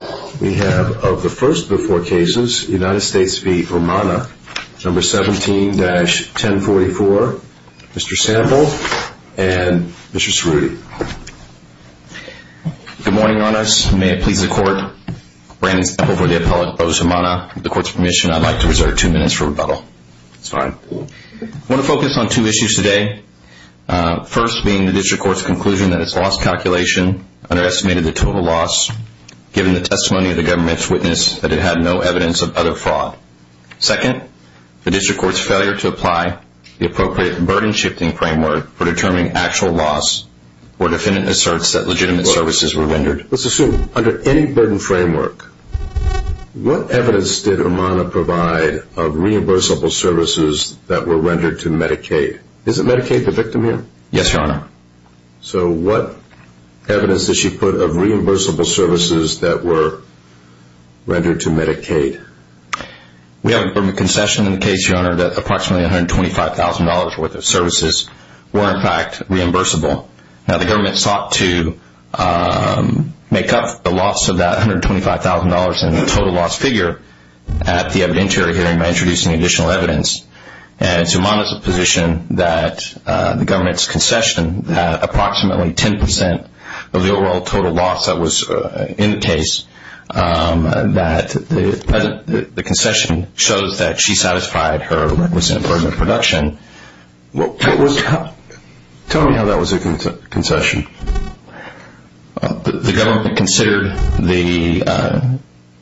17-1044, Mr. Sample and Mr. Cerruti. Good morning, Your Honors. May it please the Court, Brandon Sample for the appellate, Brotis Umana. With the Court's permission, I'd like to reserve two minutes for rebuttal. That's fine. I want to focus on two issues today. First being the District Court's conclusion that its loss calculation underestimated the total loss given the testimony of the government's witness that it had no evidence of other fraud. Second, the District Court's failure to apply the appropriate burden shifting framework for determining actual loss where defendant asserts that legitimate services were rendered. Let's assume under any burden framework, what evidence did Umana provide of reimbursable services that were rendered to Medicaid? Is it Medicaid the victim here? Yes, Your Honor. So what evidence did she put of reimbursable services that were rendered to Medicaid? We have a concession in the case, Your Honor, that approximately $125,000 worth of services were in fact reimbursable. Now the government sought to make up the loss of that $125,000 in the total loss figure at the evidentiary hearing by introducing additional evidence. And to Umana's position that the government's concession had approximately 10% of the overall total loss that was in the case, that the concession shows that she satisfied her requisite burden of production. Tell me how that was a concession. The government considered the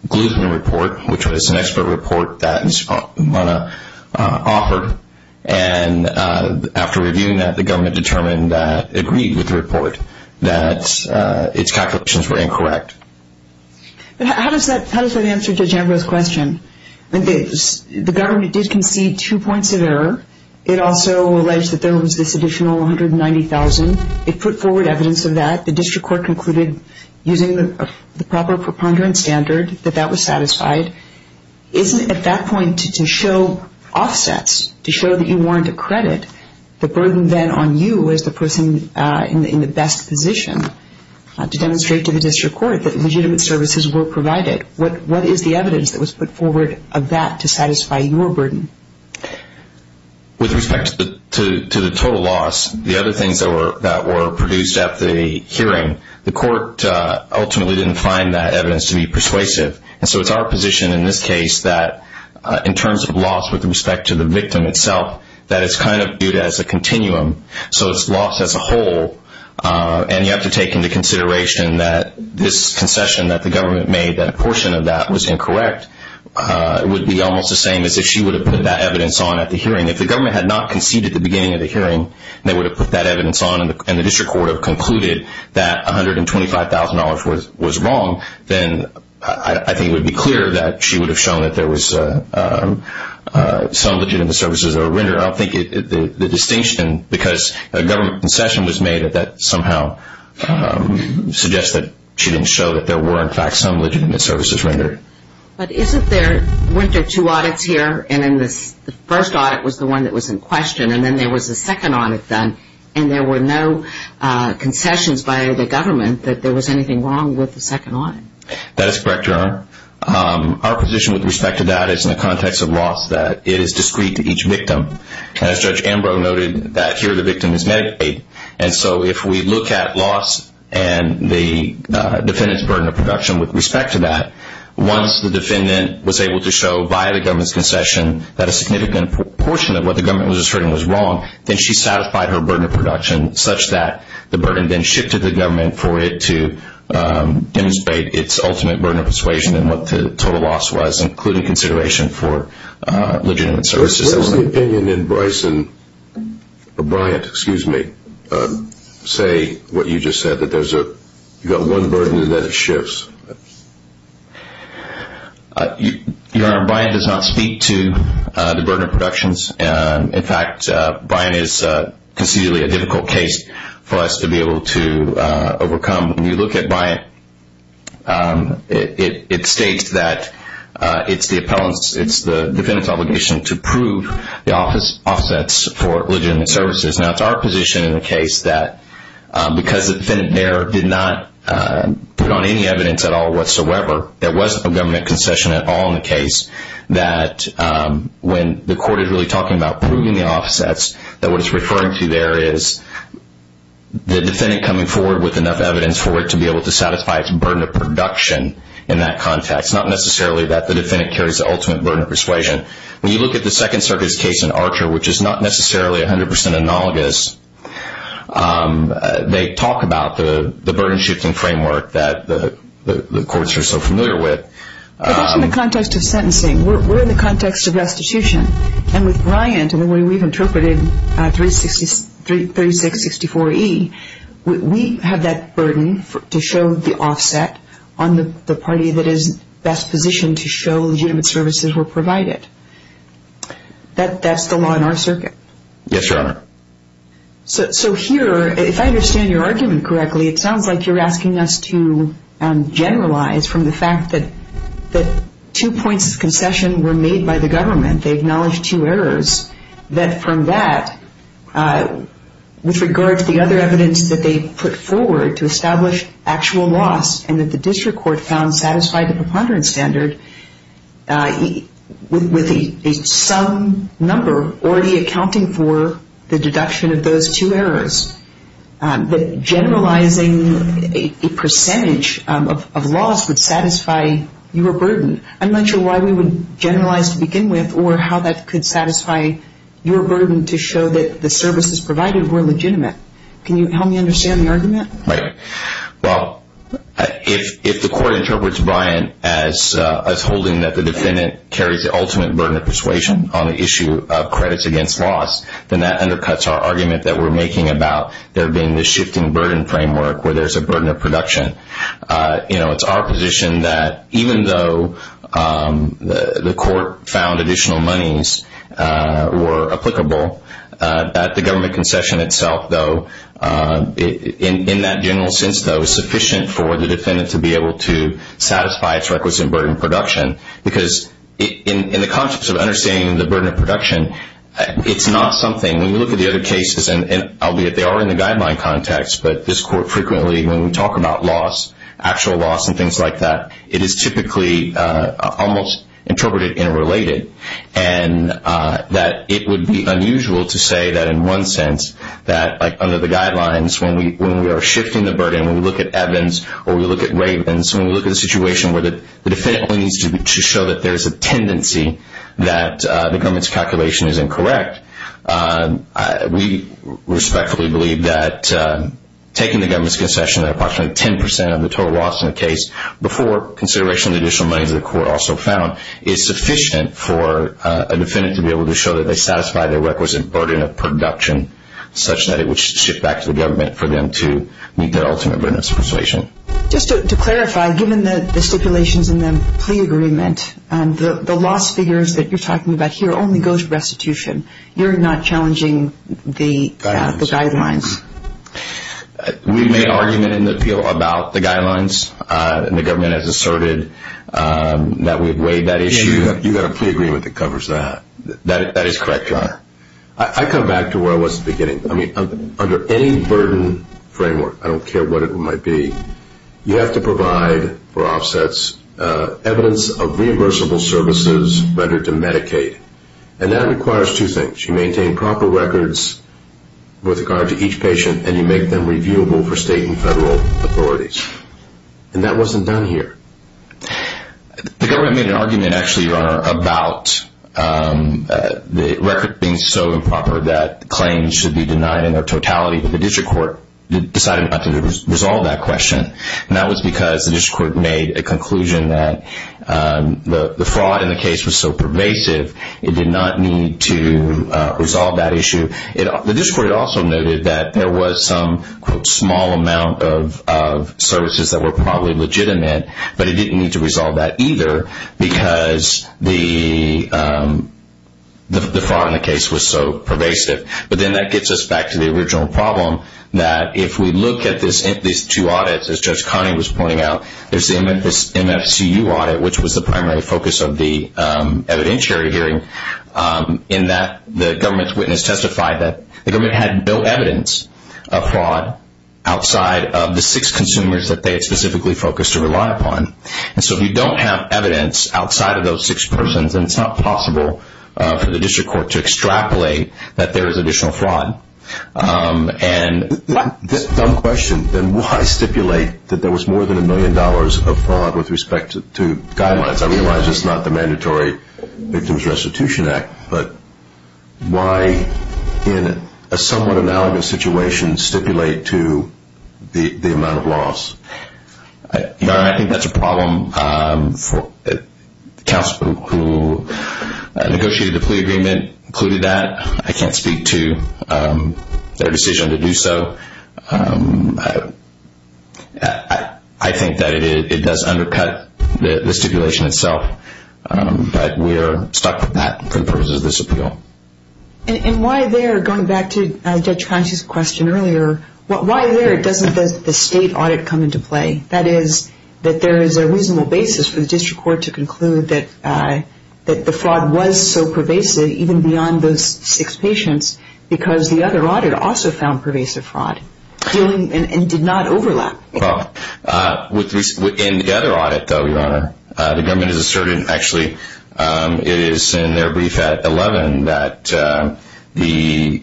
Gluttony Report, which was an expert report that Umana offered. And after reviewing that, the government determined that, agreed with the report, that its calculations were incorrect. How does that answer Judge Ambrose's question? The government did concede two points of error. It also alleged that there was this additional $190,000. It put forward evidence of that. The district court concluded, using the proper preponderance standard, that that was satisfied. Isn't it at that point to show offsets, to show that you weren't a credit, the burden then on you as the person in the best position to demonstrate to the district court that legitimate services were provided? What is the evidence that was put forward of that to satisfy your burden? With respect to the total loss, the other things that were produced at the hearing, the court ultimately didn't find that evidence to be persuasive. And so it's our position in this case that, in terms of loss with respect to the victim itself, that it's kind of viewed as a continuum. So it's loss as a whole. And you have to take into consideration that this concession that the government made, that a portion of that was incorrect, would be almost the same as if she would have put that evidence on at the hearing. If the government had not conceded at the beginning of the hearing, they would have put that evidence on and the district court would have concluded that $125,000 was wrong, then I think it would be clear that she would have shown that there was some legitimate services that were rendered. I think the distinction, because a government concession was made, that somehow suggests that she didn't show that there were, in fact, some legitimate services rendered. But isn't there, weren't there two audits here, and then the first audit was the one that was in question, and then there was a second audit done, and there were no concessions by the government that there was anything wrong with the second audit? That is correct, Your Honor. Our position with respect to that is, in the context of loss, that it is discrete to each victim. As Judge Ambrose noted, that here the victim is Medicaid. And so if we look at loss and the defendant's burden of production with respect to that, once the defendant was able to show, via the government's concession, that a significant portion of what the government was asserting was wrong, then she satisfied her burden of production such that the burden then shifted the government for it to demonstrate its ultimate burden of persuasion and what the total loss was, including consideration for legitimate services. Where does the opinion in Bryson, or Bryant, excuse me, say what you just said, that there's one burden and then it shifts? Your Honor, Bryant does not speak to the burden of productions. In fact, Bryant is concededly a difficult case for us to be able to overcome. When you look at Bryant, it states that it's the defendant's obligation to prove the offsets for legitimate services. Now, it's our position in the case that because the defendant there did not put on any evidence at all whatsoever, there wasn't a government concession at all in the case, that when the court is really talking about proving the offsets, that what it's referring to there is the defendant coming forward with enough evidence for it to be able to satisfy its burden of production in that context, not necessarily that the defendant carries the ultimate burden of persuasion. When you look at the Second Circuit's case in Archer, which is not necessarily 100 percent analogous, they talk about the burden-shifting framework that the courts are so familiar with. But that's in the context of sentencing. We're in the context of restitution. And with Bryant and the way we've interpreted 3664E, we have that burden to show the offset on the party that is best positioned to show legitimate services were provided. That's the law in our circuit. Yes, Your Honor. So here, if I understand your argument correctly, it sounds like you're asking us to generalize from the fact that two points of concession were made by the government. They acknowledged two errors. That from that, with regard to the other evidence that they put forward to satisfy the preponderance standard, with some number already accounting for the deduction of those two errors, that generalizing a percentage of laws would satisfy your burden. I'm not sure why we would generalize to begin with or how that could satisfy your burden to show that the services provided were legitimate. Can you help me understand the argument? Right. Well, if the court interprets Bryant as holding that the defendant carries the ultimate burden of persuasion on the issue of credits against loss, then that undercuts our argument that we're making about there being this shifting burden framework where there's a burden of production. It's our position that even though the court found additional monies were applicable, that the government concession itself, though, in that general sense, though, is sufficient for the defendant to be able to satisfy its requisite burden of production. Because in the context of understanding the burden of production, it's not something, when you look at the other cases, albeit they are in the guideline context, but this court frequently, when we talk about loss, actual loss and things like that, it is typically almost interpreted interrelated and that it would be unusual to say that in one sense that under the guidelines when we are shifting the burden, when we look at Evans or we look at Ravens, when we look at a situation where the defendant needs to show that there's a tendency that the government's calculation is incorrect, we respectfully believe that taking the government's concession that approximately 10% of the total loss in the case before consideration of the additional monies that are also found is sufficient for a defendant to be able to show that they satisfy their requisite burden of production such that it would shift back to the government for them to meet their ultimate burden of persuasion. Just to clarify, given the stipulations in the plea agreement, the loss figures that you're talking about here only go to restitution. You're not challenging the guidelines. We made an argument in the appeal about the guidelines and the government has asserted that we've weighed that issue. You've got a plea agreement that covers that. That is correct, Your Honor. I come back to where I was at the beginning. Under any burden framework, I don't care what it might be, you have to provide for offsets evidence of reimbursable services rendered to Medicaid. And that requires two things. You maintain proper records with regard to each patient and you make them reviewable for state and federal authorities. And that wasn't done here. The government made an argument actually, Your Honor, about the record being so improper that claims should be denied in their totality. The district court decided not to resolve that question. And that was because the district court made a conclusion that the fraud in the case was so pervasive it did not need to resolve that issue. The district court also noted that there was some small amount of services that were probably legitimate, but it didn't need to resolve that either because the fraud in the case was so pervasive. But then that gets us back to the original problem that if we look at these two audits, as Judge Connie was pointing out, there's the MFCU audit, which was the primary focus of the evidentiary hearing, in that the government's witness testified that the government had no evidence of fraud outside of the six consumers that they had specifically focused or relied upon. And so if you don't have evidence outside of those six persons, then it's not possible for the district court to extrapolate that there is additional fraud. This is a dumb question. Then why stipulate that there was more than a million dollars of fraud with respect to guidelines? I realize it's not the Mandatory Victims Restitution Act, but why in a somewhat analogous situation stipulate to the amount of loss? Your Honor, I think that's a problem. The counsel who negotiated the plea agreement included that. I can't speak to their decision to do so. I think that it does undercut the stipulation itself, but we are stuck with that for the purposes of this appeal. And why there, going back to Judge Connie's question earlier, why there doesn't the state audit come into play? That is, that there is a reasonable basis for the district court to conclude that the fraud was so pervasive, even beyond those six patients, because the other audit also found pervasive fraud and did not overlap. Well, in the other audit, though, Your Honor, the government has asserted, actually, it is in their brief at 11 that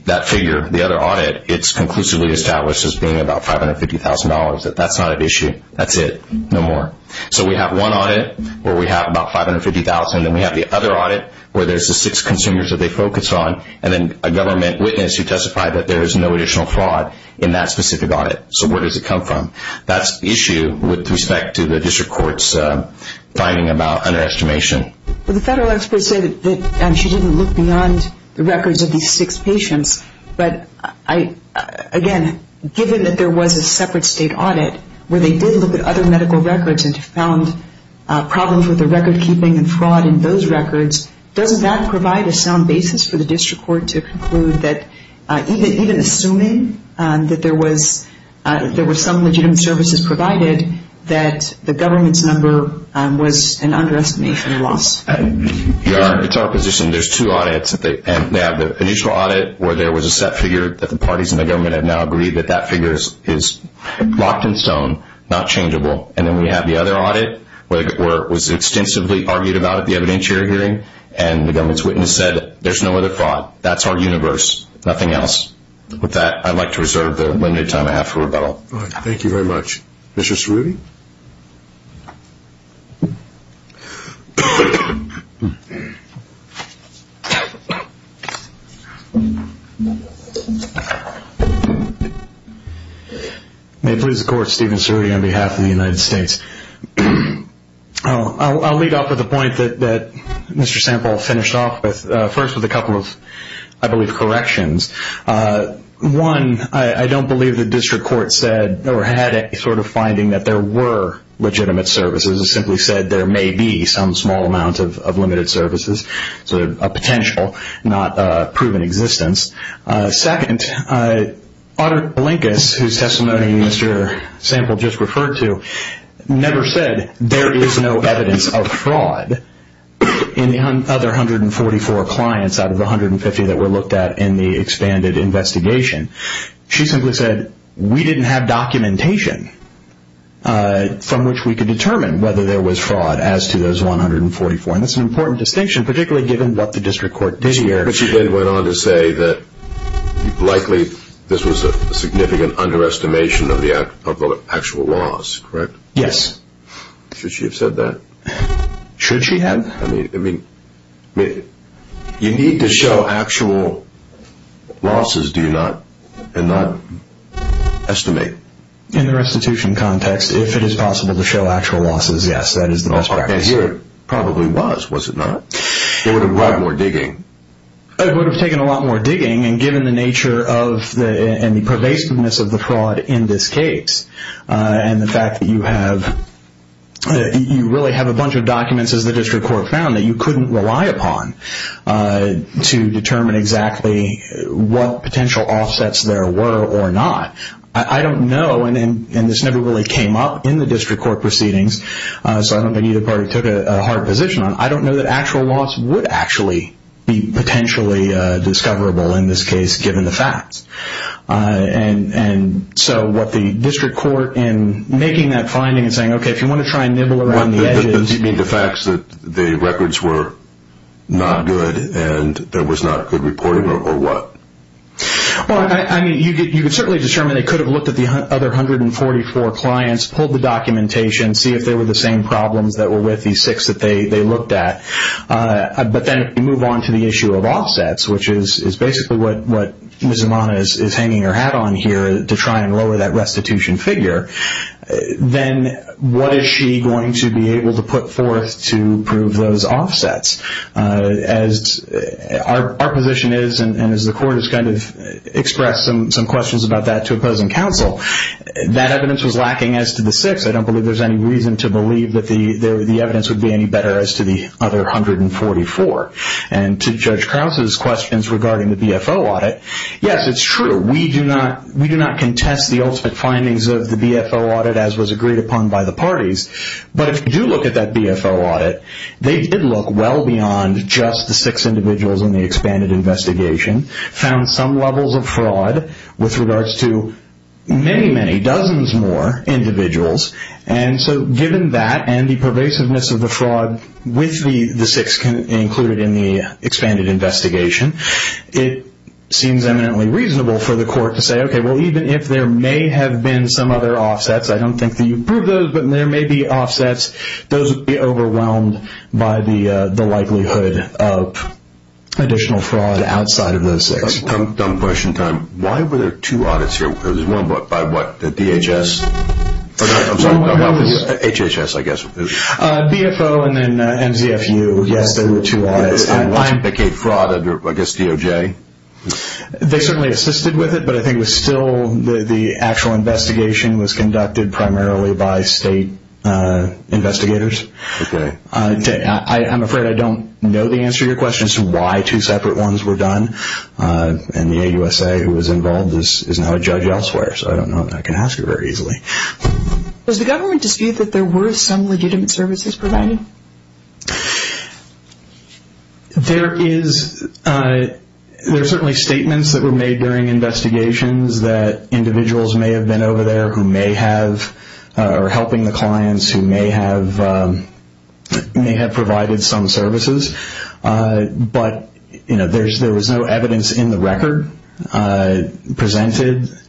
that figure, the other audit, it's conclusively established as being about $550,000. That's not at issue. That's it. No more. So we have one audit where we have about $550,000, and then we have the other audit where there's the six consumers that they focus on, and then a government witness who testified that there is no additional fraud in that specific audit. So where does it come from? That's the issue with respect to the district court's finding about underestimation. Well, the federal experts say that she didn't look beyond the records of these six patients. But, again, given that there was a separate state audit where they did look at other medical records and found problems with the recordkeeping and fraud in those records, doesn't that provide a sound basis for the district court to conclude that, even assuming that there were some legitimate services provided, that the government's number was an underestimation loss? Your Honor, it's our position there's two audits. They have the initial audit where there was a set figure that the parties in the government have now agreed that that figure is locked in stone, not changeable. And then we have the other audit where it was extensively argued about at the evidentiary hearing, and the government's witness said there's no other fraud. That's our universe, nothing else. With that, I'd like to reserve the limited time I have for rebuttal. All right. Thank you very much. Mr. Cerruti? May it please the Court, Stephen Cerruti on behalf of the United States. I'll lead off with a point that Mr. Sample finished off with, first with a couple of, I believe, corrections. One, I don't believe the district court said or had any sort of finding that there were legitimate services. It simply said there may be some small amount of limited services, so a potential, not a proven existence. Second, Otter Blinkus, whose testimony Mr. Sample just referred to, never said there is no evidence of fraud in the other 144 clients out of the 150 that were looked at in the expanded investigation. She simply said, we didn't have documentation from which we could determine whether there was fraud as to those 144. And that's an important distinction, particularly given what the district court did here. But she then went on to say that likely this was a significant underestimation of the actual laws, correct? Yes. Should she have said that? Should she have? I mean, you need to show actual losses, do you not? And not estimate. In the restitution context, if it is possible to show actual losses, yes, that is the best practice. And here it probably was, was it not? It would have brought more digging. It would have taken a lot more digging, and given the nature and the pervasiveness of the fraud in this case, and the fact that you really have a bunch of documents, as the district court found, that you couldn't rely upon to determine exactly what potential offsets there were or not. I don't know, and this never really came up in the district court proceedings, so I don't think either party took a hard position on it. I don't know that actual loss would actually be potentially discoverable in this case, given the facts. And so what the district court in making that finding and saying, okay, if you want to try and nibble around the edges. You mean the facts that the records were not good and there was not good reporting, or what? Well, I mean, you could certainly determine they could have looked at the other 144 clients, pulled the documentation, see if they were the same problems that were with these six that they looked at. But then if you move on to the issue of offsets, which is basically what Ms. Amana is hanging her hat on here to try and lower that restitution figure, then what is she going to be able to put forth to prove those offsets? Our position is, and as the court has kind of expressed some questions about that to opposing counsel, that evidence was lacking as to the six. I don't believe there's any reason to believe that the evidence would be any better as to the other 144. And to Judge Krause's questions regarding the BFO audit, yes, it's true. We do not contest the ultimate findings of the BFO audit as was agreed upon by the parties. But if you do look at that BFO audit, they did look well beyond just the six individuals in the expanded investigation, found some levels of fraud with regards to many, many dozens more individuals. And so given that and the pervasiveness of the fraud with the six included in the expanded investigation, it seems eminently reasonable for the court to say, okay, well, even if there may have been some other offsets, I don't think that you proved those, but there may be offsets. Those would be overwhelmed by the likelihood of additional fraud outside of those six. I'm pushing time. Why were there two audits here? There was one by what, the DHS? I'm sorry, HHS, I guess. BFO and then MZFU. Yes, there were two audits. And why indicate fraud under, I guess, DOJ? They certainly assisted with it, but I think it was still, the actual investigation was conducted primarily by state investigators. Okay. I'm afraid I don't know the answer to your question as to why two separate ones were done. And the AUSA who was involved is now a judge elsewhere, so I don't know. I can ask it very easily. Does the government dispute that there were some legitimate services provided? There is, there are certainly statements that were made during investigations that individuals may have been over there who may have, or helping the clients who may have provided some services. But, you know, there was no evidence in the record presented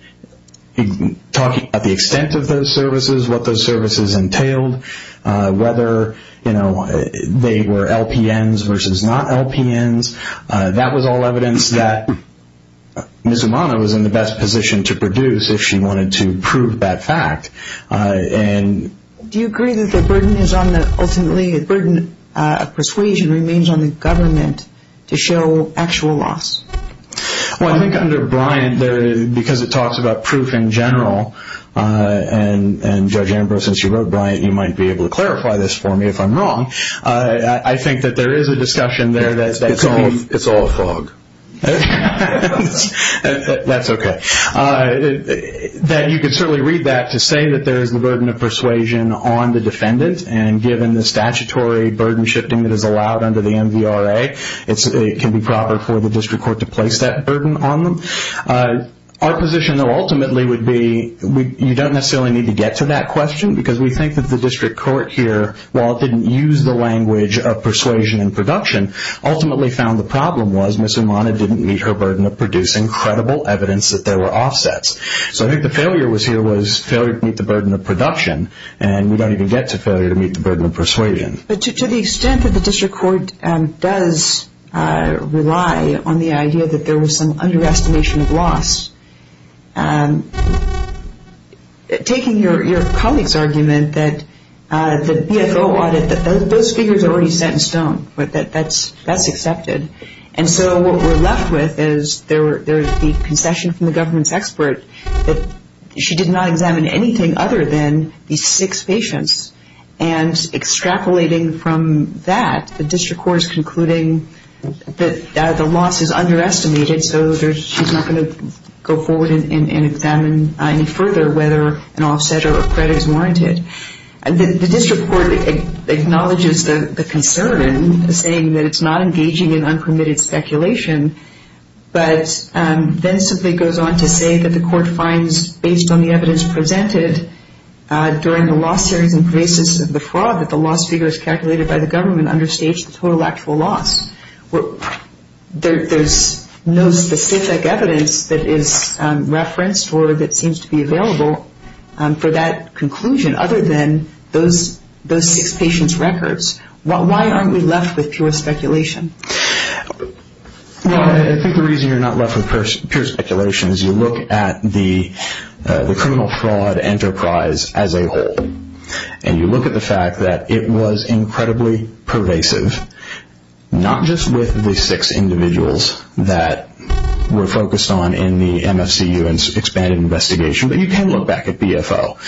talking about the extent of those services, what those services entailed, whether, you know, they were LPNs versus not LPNs. That was all evidence that Ms. Umana was in the best position to produce if she wanted to prove that fact. Do you agree that the burden is ultimately, the burden of persuasion remains on the government to show actual loss? Well, I think under Bryant, because it talks about proof in general, and Judge Ambrose, since you wrote Bryant, you might be able to clarify this for me if I'm wrong. I think that there is a discussion there that's being… It's all a fog. That's okay. You can certainly read that to say that there is the burden of persuasion on the defendant, and given the statutory burden shifting that is allowed under the MVRA, it can be proper for the district court to place that burden on them. Our position, though, ultimately would be you don't necessarily need to get to that question because we think that the district court here, while it didn't use the language of persuasion and production, ultimately found the problem was Ms. Umana didn't meet her burden of producing credible evidence that there were offsets. So I think the failure was here was failure to meet the burden of production, and we don't even get to failure to meet the burden of persuasion. But to the extent that the district court does rely on the idea that there was some underestimation of loss, taking your colleague's argument that the BFO audit, those figures are already set in stone, that that's accepted. And so what we're left with is there is the concession from the government's expert that she did not examine anything other than these six patients, and extrapolating from that, the district court is concluding that the loss is underestimated, so she's not going to go forward and examine any further whether an offset or a credit is warranted. The district court acknowledges the concern, saying that it's not engaging in unpermitted speculation, but then simply goes on to say that the court finds, based on the evidence presented during the loss series and basis of the fraud, that the loss figure is calculated by the government and understates the total actual loss. There's no specific evidence that is referenced or that seems to be available for that conclusion, other than those six patients' records. Why aren't we left with pure speculation? Well, I think the reason you're not left with pure speculation is you look at the criminal fraud enterprise as a whole, and you look at the fact that it was incredibly pervasive, not just with the six individuals that were focused on in the MFCU and expanded investigation, but you can look back at BFO.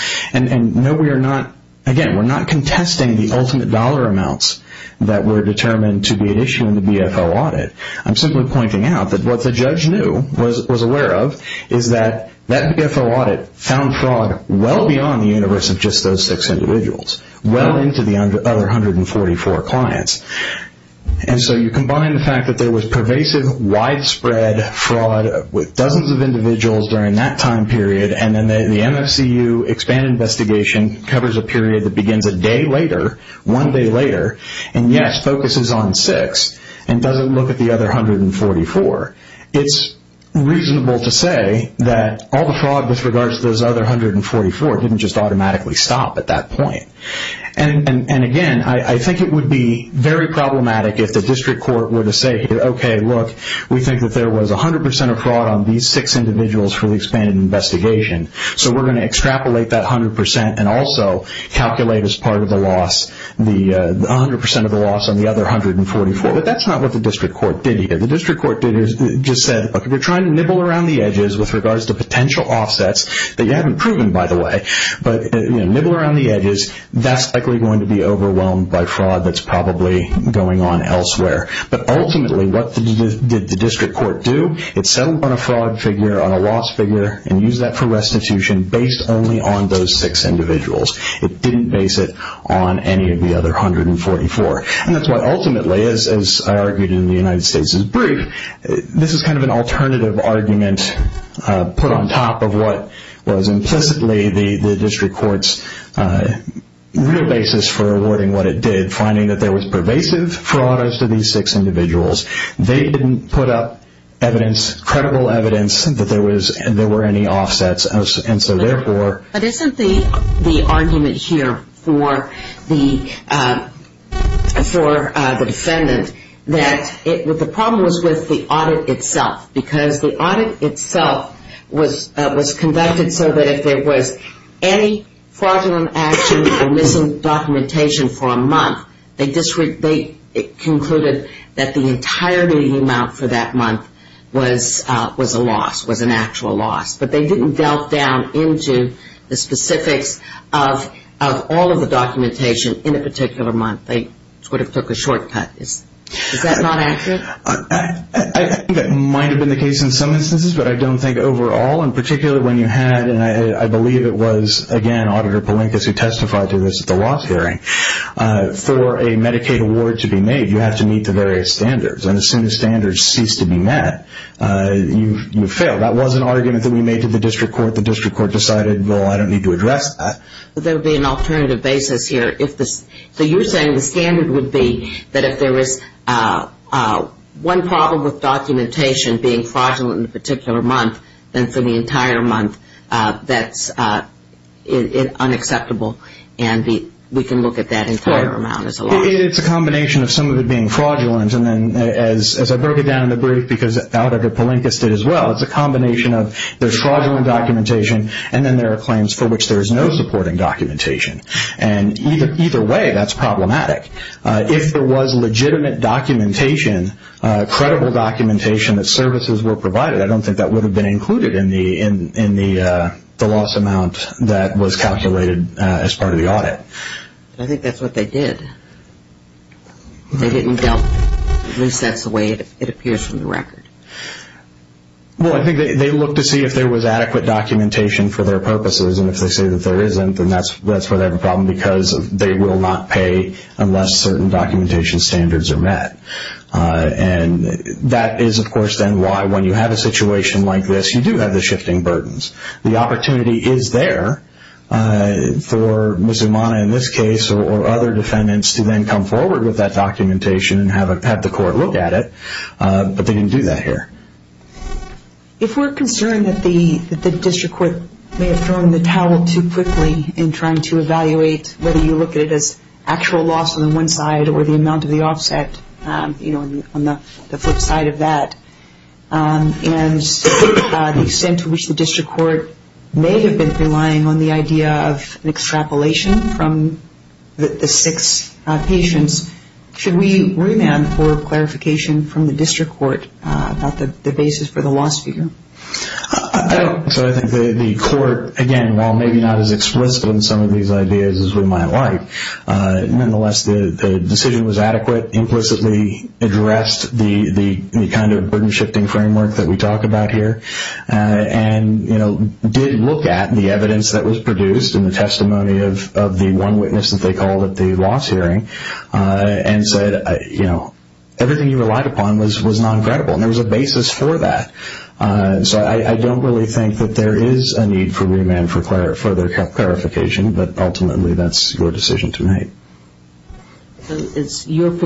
Again, we're not contesting the ultimate dollar amounts that were determined to be at issue in the BFO audit. I'm simply pointing out that what the judge knew, was aware of, is that that BFO audit found fraud well beyond the universe of just those six individuals, well into the other 144 clients. And so you combine the fact that there was pervasive, widespread fraud with dozens of individuals during that time period, and then the MFCU expanded investigation covers a period that begins a day later, one day later, and yes, focuses on six, and doesn't look at the other 144. It's reasonable to say that all the fraud with regards to those other 144 didn't just automatically stop at that point. And again, I think it would be very problematic if the district court were to say, okay, look, we think that there was 100% of fraud on these six individuals from the expanded investigation, so we're going to extrapolate that 100% and also calculate as part of the loss, the 100% of the loss on the other 144. But that's not what the district court did here. The district court did here just said, okay, we're trying to nibble around the edges with regards to potential offsets that you haven't proven, by the way, but nibble around the edges, that's likely going to be overwhelmed by fraud that's probably going on elsewhere. But ultimately, what did the district court do? It settled on a fraud figure, on a loss figure, and used that for restitution based only on those six individuals. It didn't base it on any of the other 144. And that's why ultimately, as I argued in the United States' brief, this is kind of an alternative argument put on top of what was implicitly the district court's real basis for avoiding what it did, finding that there was pervasive fraud as to these six individuals. They didn't put up evidence, credible evidence, that there were any offsets, and so therefore... But isn't the argument here for the defendant that the problem was with the audit itself? Because the audit itself was conducted so that if there was any fraudulent action or missing documentation for a month, they concluded that the entirety amount for that month was a loss, was an actual loss. But they didn't delve down into the specifics of all of the documentation in a particular month. They sort of took a shortcut. Is that not accurate? I think that might have been the case in some instances, but I don't think overall. And particularly when you had, and I believe it was, again, Auditor Palinkas who testified to this at the last hearing, for a Medicaid award to be made, you have to meet the various standards. And as soon as standards cease to be met, you fail. That was an argument that we made to the district court. The district court decided, well, I don't need to address that. There would be an alternative basis here. So you're saying the standard would be that if there was one problem with documentation being fraudulent in a particular month, then for the entire month that's unacceptable and we can look at that entire amount as a loss. It's a combination of some of it being fraudulent, and then as I broke it down in the brief, because Auditor Palinkas did as well, it's a combination of there's fraudulent documentation and then there are claims for which there is no supporting documentation. And either way, that's problematic. If there was legitimate documentation, credible documentation that services were provided, I don't think that would have been included in the loss amount that was calculated as part of the audit. I think that's what they did. They didn't delve. At least that's the way it appears from the record. Well, I think they looked to see if there was adequate documentation for their purposes. And if they say that there isn't, then that's where they have a problem because they will not pay unless certain documentation standards are met. And that is, of course, then why when you have a situation like this, you do have the shifting burdens. The opportunity is there for Mizumana in this case or other defendants to then come forward with that documentation and have the court look at it. But they didn't do that here. If we're concerned that the district court may have thrown the towel too quickly in trying to evaluate whether you look at it as actual loss on the one side or the amount of the offset on the flip side of that, and the extent to which the district court may have been relying on the idea of an extrapolation from the six patients, should we remand for clarification from the district court about the basis for the loss figure? So I think the court, again, while maybe not as explicit on some of these ideas as we might like, nonetheless the decision was adequate, implicitly addressed the kind of burden-shifting framework that we talk about here, and did look at the evidence that was produced and the testimony of the one witness that they called at the loss hearing and said everything you relied upon was non-credible, and there was a basis for that. So I don't really think that there is a need for remand for further clarification, but ultimately that's your decision to make. And when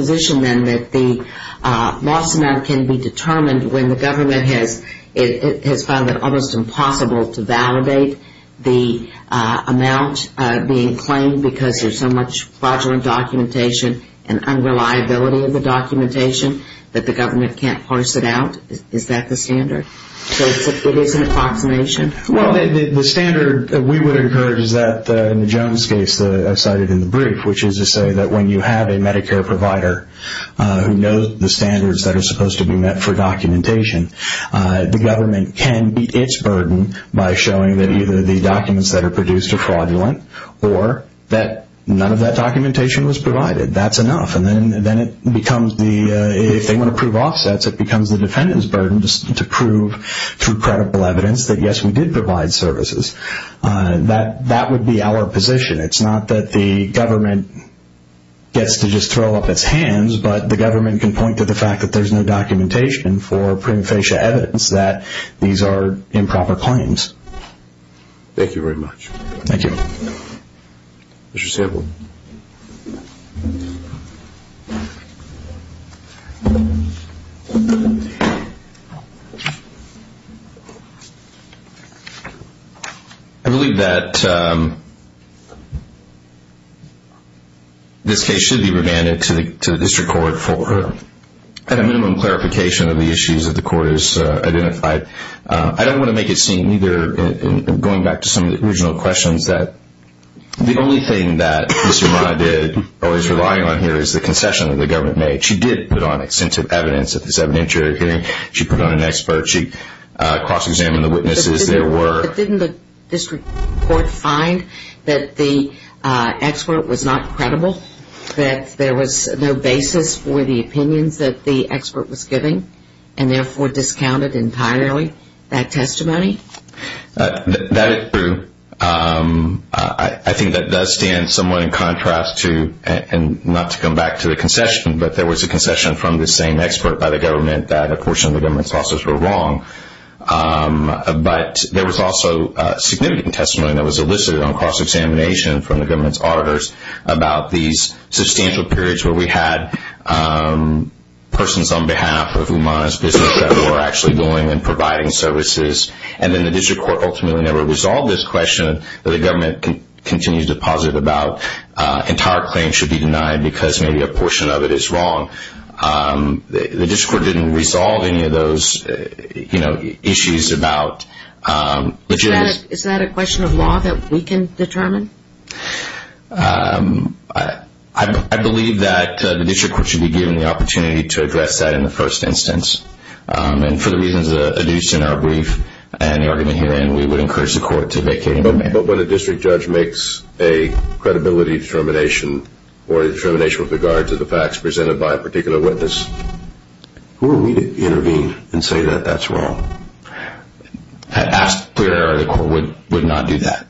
the government has found it almost impossible to validate the amount being claimed because there's so much fraudulent documentation and unreliability of the documentation that the government can't parse it out, is that the standard? So it is an approximation? Well, the standard we would encourage is that in Joan's case I cited in the brief, which is to say that when you have a Medicare provider who knows the standards that are supposed to be met for documentation, the government can beat its burden by showing that either the documents that are produced are fraudulent or that none of that documentation was provided. That's enough. And then if they want to prove offsets, it becomes the defendant's burden to prove through credible evidence that, yes, we did provide services. That would be our position. It's not that the government gets to just throw up its hands, but the government can point to the fact that there's no documentation for prima facie evidence that these are improper claims. Thank you very much. Thank you. Mr. Sample. I believe that this case should be remanded to the district court for at a minimum clarification of the issues that the court has identified. I don't want to make it seem either, going back to some of the original questions, that the only thing that Ms. Romano did or is relying on here is the concession that the government made. She did put on extensive evidence at this evidentiary hearing. She put on an expert. She cross-examined the witnesses. But didn't the district court find that the expert was not credible, that there was no basis for the opinions that the expert was giving and therefore discounted entirely that testimony? That is true. I think that does stand somewhat in contrast to, and not to come back to the concession, but there was a concession from the same expert by the government that a portion of the government's officers were wrong. But there was also significant testimony that was elicited on cross-examination from the government's auditors about these substantial periods where we had persons on behalf of Umana's business that were actually going and providing services. And then the district court ultimately never resolved this question that the government continues to posit about entire claims should be denied because maybe a portion of it is wrong. The district court didn't resolve any of those issues about legitimacy. Is that a question of law that we can determine? I believe that the district court should be given the opportunity to address that in the first instance. And for the reasons that are adduced in our brief and the argument herein, we would encourage the court to vacate. But when a district judge makes a credibility determination or a determination with regard to the facts presented by a particular witness, who are we to intervene and say that that's wrong? Asked prior to the court would not do that.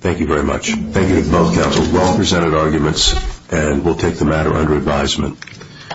Thank you very much. Thank you to both counsels. Well presented arguments and we'll take the matter under advisement.